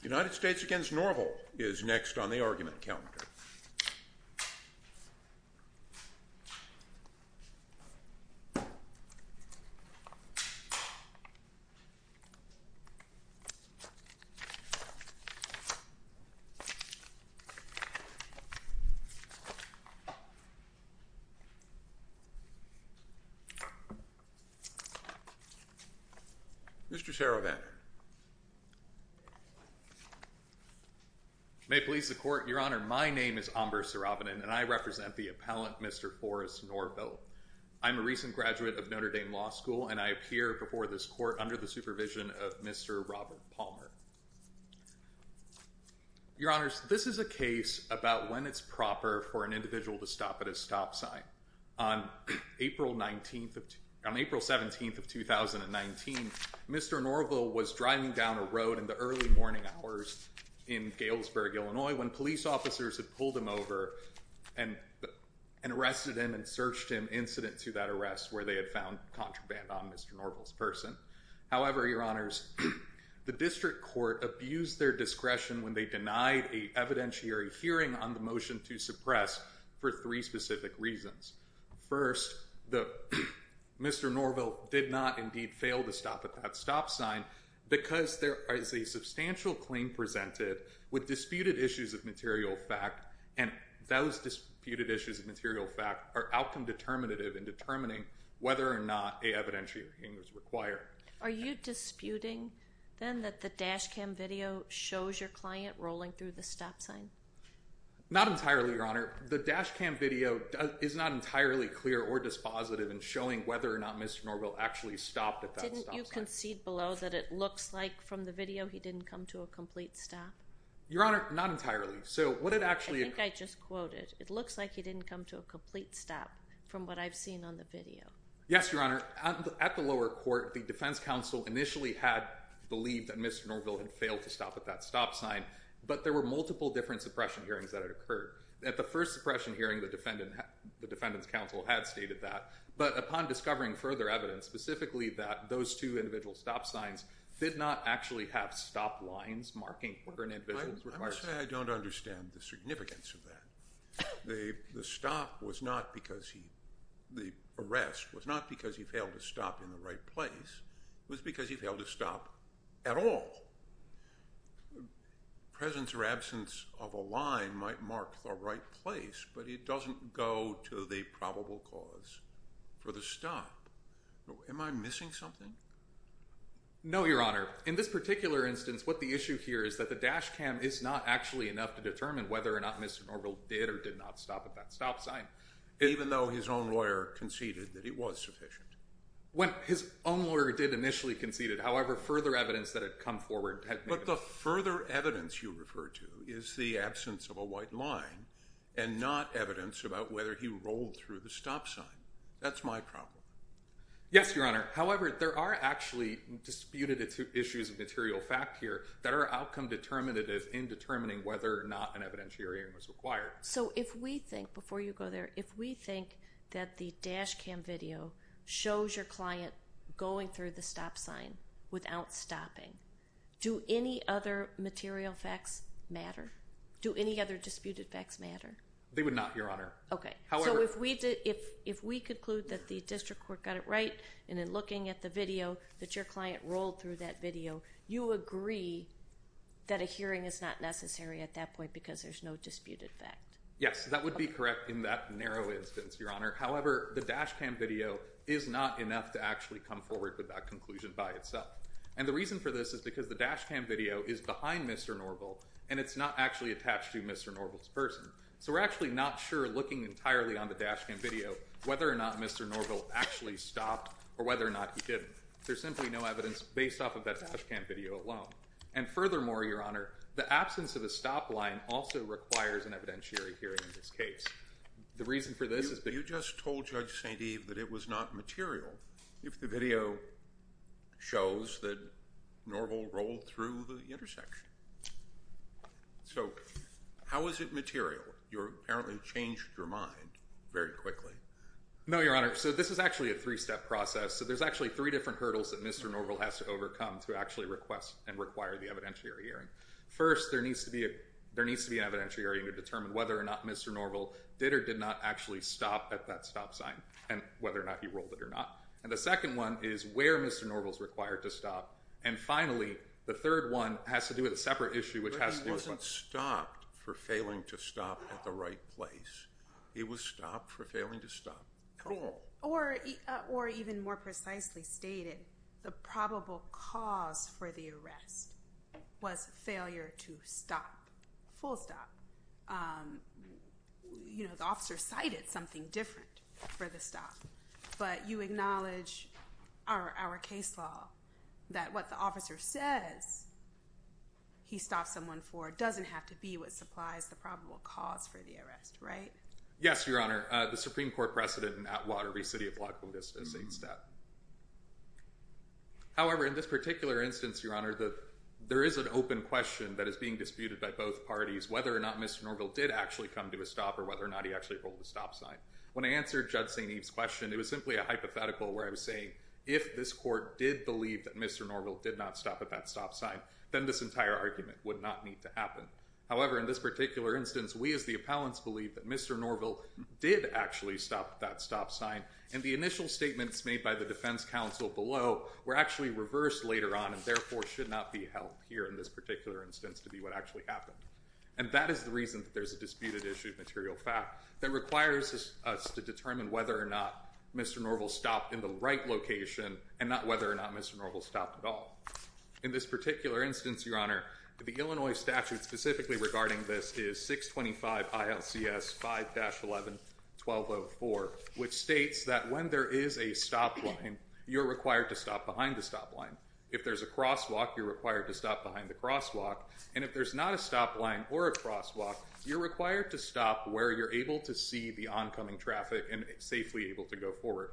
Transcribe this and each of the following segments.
The United States v. Norville is next on the argument calendar. Mr. Sarovan, may it please the Court, Your Honor. My name is Amber Sarovan, and I represent the appellant, Mr. Forrest Norville. I'm a recent graduate of Notre Dame Law School, and I appear before this Court under the supervision of Mr. Robert Palmer. Your Honors, this is a case about when it's proper for an individual to stop at a stop sign. On April 17th of 2019, Mr. Norville was driving down a road in the early morning hours in and arrested him and searched him incident to that arrest where they had found contraband on Mr. Norville's person. However, Your Honors, the district court abused their discretion when they denied a evidentiary hearing on the motion to suppress for three specific reasons. First, Mr. Norville did not indeed fail to stop at that stop sign because there is a and those disputed issues of material fact are outcome determinative in determining whether or not a evidentiary hearing is required. Are you disputing, then, that the dash cam video shows your client rolling through the stop sign? Not entirely, Your Honor. The dash cam video is not entirely clear or dispositive in showing whether or not Mr. Norville actually stopped at that stop sign. Didn't you concede below that it looks like from the video he didn't come to a complete stop? Your Honor, not entirely. I think I just quoted, it looks like he didn't come to a complete stop from what I've seen on the video. Yes, Your Honor. At the lower court, the defense counsel initially had believed that Mr. Norville had failed to stop at that stop sign, but there were multiple different suppression hearings that had occurred. At the first suppression hearing, the defendant's counsel had stated that, but upon discovering further evidence, specifically that those two individual stop signs did not actually have stop lines marking where an individual was required to stop. I don't understand the significance of that. The stop was not because he, the arrest, was not because he failed to stop in the right place. It was because he failed to stop at all. Presence or absence of a line might mark the right place, but it doesn't go to the probable cause for the stop. Am I missing something? No Your Honor. In this particular instance, what the issue here is that the dash cam is not actually enough to determine whether or not Mr. Norville did or did not stop at that stop sign. Even though his own lawyer conceded that it was sufficient. His own lawyer did initially conceded, however, further evidence that had come forward had made it. But the further evidence you refer to is the absence of a white line and not evidence about whether he rolled through the stop sign. That's my problem. Yes, Your Honor. However, there are actually disputed issues of material fact here that are outcome determinative in determining whether or not an evidentiary hearing was required. So if we think, before you go there, if we think that the dash cam video shows your client going through the stop sign without stopping, do any other material facts matter? Do any other disputed facts matter? They would not, Your Honor. Okay. And in looking at the video that your client rolled through that video, you agree that a hearing is not necessary at that point because there's no disputed fact. Yes, that would be correct in that narrow instance, Your Honor. However, the dash cam video is not enough to actually come forward with that conclusion by itself. And the reason for this is because the dash cam video is behind Mr. Norville and it's not actually attached to Mr. Norville's person. So we're actually not sure, looking entirely on the dash cam video, whether or not Mr. Norville actually stopped or whether or not he didn't. There's simply no evidence based off of that dash cam video alone. And furthermore, Your Honor, the absence of a stop line also requires an evidentiary hearing in this case. The reason for this is because- You just told Judge St. Eve that it was not material if the video shows that Norville rolled through the intersection. So how is it material? You apparently changed your mind very quickly. No, Your Honor. So this is actually a three-step process. So there's actually three different hurdles that Mr. Norville has to overcome to actually request and require the evidentiary hearing. First, there needs to be an evidentiary hearing to determine whether or not Mr. Norville did or did not actually stop at that stop sign and whether or not he rolled it or not. And the second one is where Mr. Norville's required to stop. And finally, the third one has to do with a separate issue which has to do with- But he wasn't stopped for failing to stop at the right place. He was stopped for failing to stop at the wrong place. Or even more precisely stated, the probable cause for the arrest was failure to stop, full stop. You know, the officer cited something different for the stop, but you acknowledge our case law that what the officer says he stopped someone for doesn't have to be what supplies the probable cause for the arrest, right? Yes, Your Honor. The Supreme Court precedent in Atwater v. City of La Pluta v. St. Steph. However, in this particular instance, Your Honor, there is an open question that is being disputed by both parties whether or not Mr. Norville did actually come to a stop or whether or not he actually rolled the stop sign. When I answered Judge St. Eve's question, it was simply a hypothetical where I was saying if this court did believe that Mr. Norville did not stop at that stop sign, then this entire argument would not need to happen. However, in this particular instance, we as the appellants believe that Mr. Norville did actually stop at that stop sign, and the initial statements made by the defense counsel below were actually reversed later on and therefore should not be held here in this particular instance to be what actually happened. And that is the reason that there's a disputed issue of material fact that requires us to determine whether or not Mr. Norville stopped in the right location and not whether or not Mr. Norville stopped at all. In this particular instance, Your Honor, the Illinois statute specifically regarding this is 625 ILCS 5-11-1204, which states that when there is a stop line, you're required to stop behind the stop line. If there's a crosswalk, you're required to stop behind the crosswalk, and if there's not a stop line or a crosswalk, you're required to stop where you're able to see the oncoming traffic and safely able to go forward.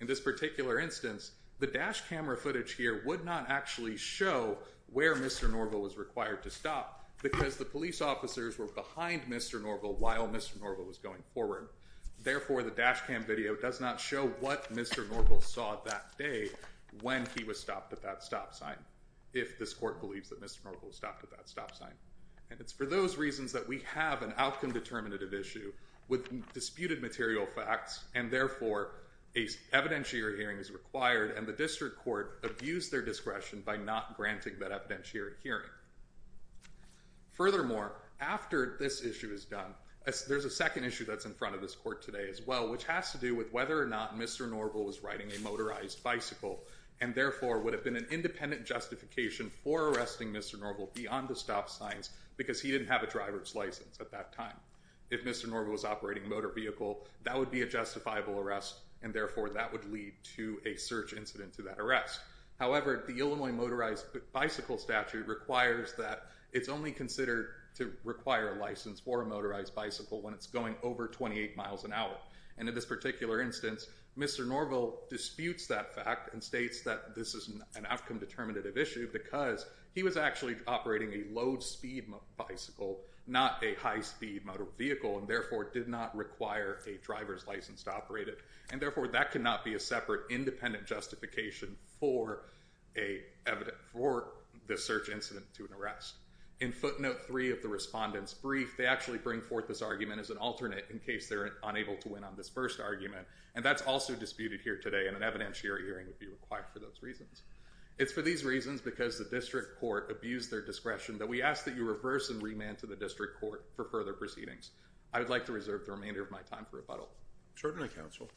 In this particular instance, the dash camera footage here would not actually show where Mr. Norville was required to stop because the police officers were behind Mr. Norville while Mr. Norville was going forward. Therefore, the dash cam video does not show what Mr. Norville saw that day when he was stopped at that stop sign, if this court believes that Mr. Norville stopped at that stop sign. And it's for those reasons that we have an outcome determinative issue with disputed material facts, and therefore, an evidentiary hearing is required, and the district court abused their discretion by not granting that evidentiary hearing. Furthermore, after this issue is done, there's a second issue that's in front of this court today as well, which has to do with whether or not Mr. Norville was riding a motorized bicycle and therefore would have been an independent justification for arresting Mr. Norville beyond the stop signs because he didn't have a driver's license at that time. If Mr. Norville was operating a motor vehicle, that would be a justifiable arrest, and therefore, that would lead to a search incident to that arrest. However, the Illinois motorized bicycle statute requires that it's only considered to require a license for a motorized bicycle when it's going over 28 miles an hour. And in this particular instance, Mr. Norville disputes that fact and states that this is an outcome determinative issue because he was actually operating a low-speed bicycle, not a high-speed motor vehicle, and therefore, did not require a driver's license to operate it, and therefore, that cannot be a separate independent justification for a search incident to an arrest. In footnote three of the respondent's brief, they actually bring forth this argument as an alternate in case they're unable to win on this first argument, and that's also disputed here today, and an evidentiary hearing would be required for those reasons. It's for these reasons, because the district court abused their discretion, that we ask that you reverse and remand to the district court for further proceedings. I would like to reserve the remainder of my time for rebuttal. Certainly, counsel.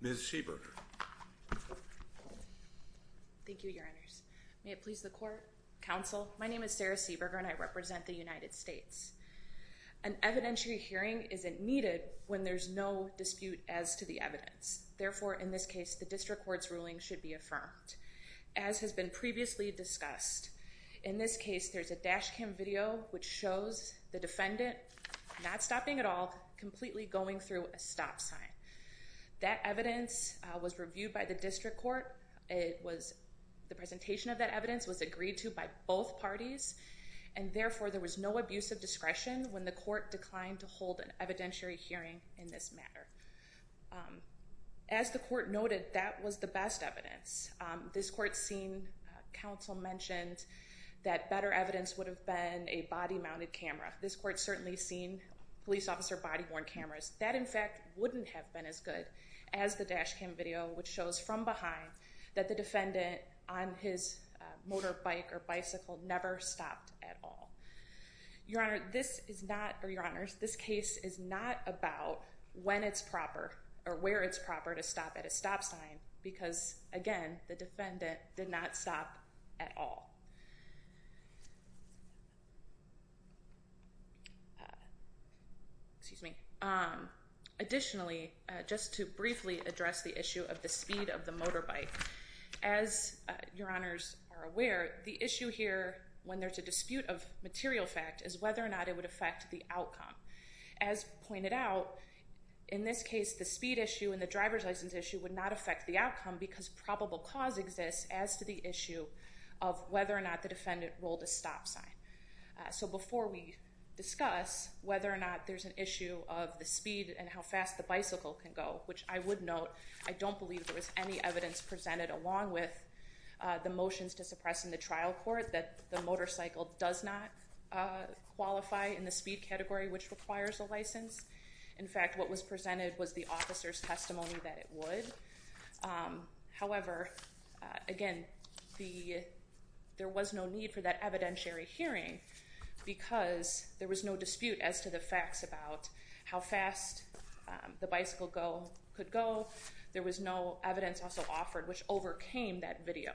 Ms. Seaburger. Thank you, Your Honors. May it please the court, counsel, my name is Sarah Seaburger, and I represent the United States. An evidentiary hearing isn't needed when there's no dispute as to the evidence. Therefore, in this case, the district court's ruling should be affirmed. As has been previously discussed, in this case, there's a dash cam video which shows the defendant not stopping at all, completely going through a stop sign. That evidence was reviewed by the district court. The presentation of that evidence was agreed to by both parties, and therefore, there was no abuse of discretion when the court declined to hold an evidentiary hearing in this matter. As the court noted, that was the best evidence. This court's seen, counsel mentioned, that better evidence would have been a body-mounted camera. This court's certainly seen police officer body-worn cameras. That, in fact, wouldn't have been as good as the dash cam video, which shows from behind that the defendant, on his motorbike or bicycle, never stopped at all. Your Honor, this is not, or Your Honors, this case is not about when it's proper, or where it's proper to stop at a stop sign, because, again, the defendant did not stop at all. Additionally, just to briefly address the issue of the speed of the motorbike, as Your Honors are aware, the issue here, when there's a dispute of material fact, is whether or not it would affect the outcome. As pointed out, in this case, the speed issue and the driver's license issue would not affect the outcome, because probable cause exists as to the issue of whether or not the defendant rolled a stop sign. So before we discuss whether or not there's an issue of the speed and how fast the bicycle can go, which I would note, I don't believe there was any evidence presented, along with the motions to suppress in the trial court, that the motorcycle does not qualify in the speed category, which requires a license. In fact, what was presented was the officer's testimony that it would. However, again, there was no need for that evidentiary hearing, because there was no dispute as to the facts about how fast the bicycle could go. There was no evidence also offered, which overcame that video.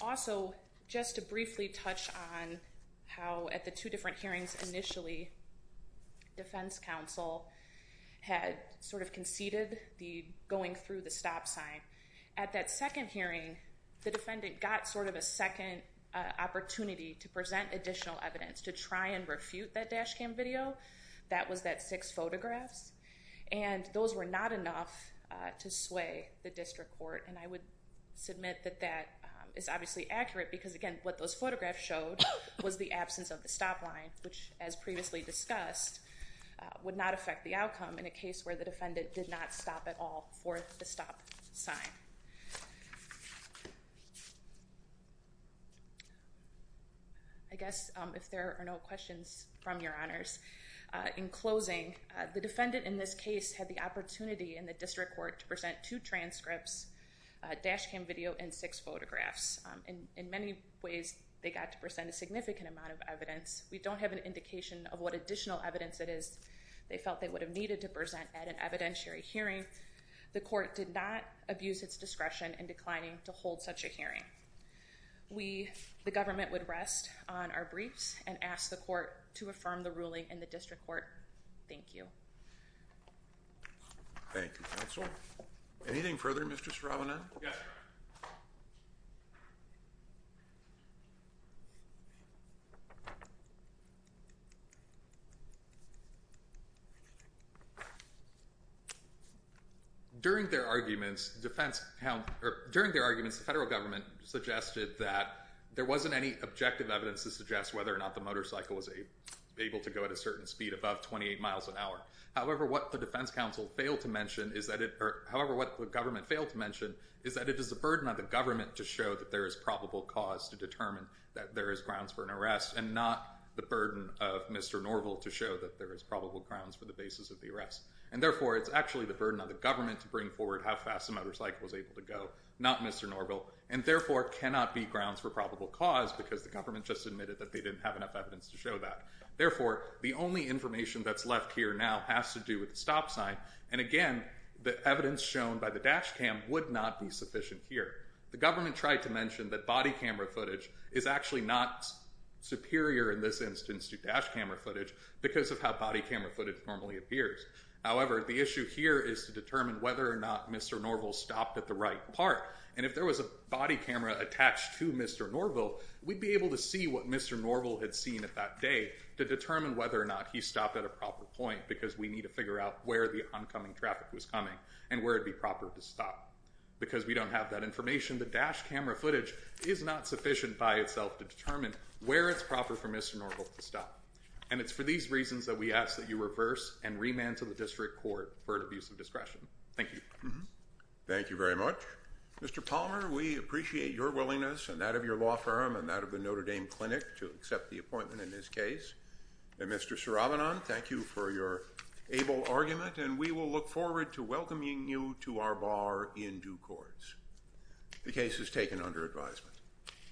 Also, just to briefly touch on how, at the two different hearings initially, defense counsel had sort of conceded the going through the stop sign. At that second hearing, the defendant got sort of a second opportunity to present additional evidence to try and refute that dash cam video. That was that six photographs. And those were not enough to sway the district court. And I would submit that that is obviously accurate, because again, what those photographs showed was the absence of the stop line, which, as previously discussed, would not affect the outcome in a case where the defendant did not stop at all for the stop sign. I guess, if there are no questions from your honors, in closing, the defendant in this dash cam video and six photographs, in many ways, they got to present a significant amount of evidence. We don't have an indication of what additional evidence it is they felt they would have needed to present at an evidentiary hearing. The court did not abuse its discretion in declining to hold such a hearing. The government would rest on our briefs and ask the court to affirm the ruling in the district court. Thank you. Thank you, counsel. Anything further, Mr. Straubinen? Yes, Your Honor. During their arguments, the federal government suggested that there wasn't any objective evidence to suggest whether or not the motorcycle was able to go at a certain speed above 28 miles an hour. However, what the defense counsel failed to mention is that it is the burden of the government to show that there is probable cause to determine that there is grounds for an arrest and not the burden of Mr. Norville to show that there is probable grounds for the basis of the arrest. And therefore, it's actually the burden of the government to bring forward how fast the motorcycle was able to go, not Mr. Norville, and therefore cannot be grounds for probable cause because the government just admitted that they didn't have enough evidence to show that. Therefore, the only information that's left here now has to do with the stop sign. And again, the evidence shown by the dash cam would not be sufficient here. The government tried to mention that body camera footage is actually not superior in this instance to dash camera footage because of how body camera footage normally appears. However, the issue here is to determine whether or not Mr. Norville stopped at the right part. And if there was a body camera attached to Mr. Norville, we'd be able to see what Mr. Norville had seen at that day to determine whether or not he stopped at a proper point because we need to figure out where the oncoming traffic was coming and where it'd be proper to stop. Because we don't have that information, the dash camera footage is not sufficient by itself to determine where it's proper for Mr. Norville to stop. And it's for these reasons that we ask that you reverse and remand to the district court for an abuse of discretion. Thank you. Thank you very much. Mr. Palmer, we appreciate your willingness and that of your law firm and that of the board to accept the appointment in this case. And Mr. Siravanan, thank you for your able argument and we will look forward to welcoming you to our bar in due course. The case is taken under advisement.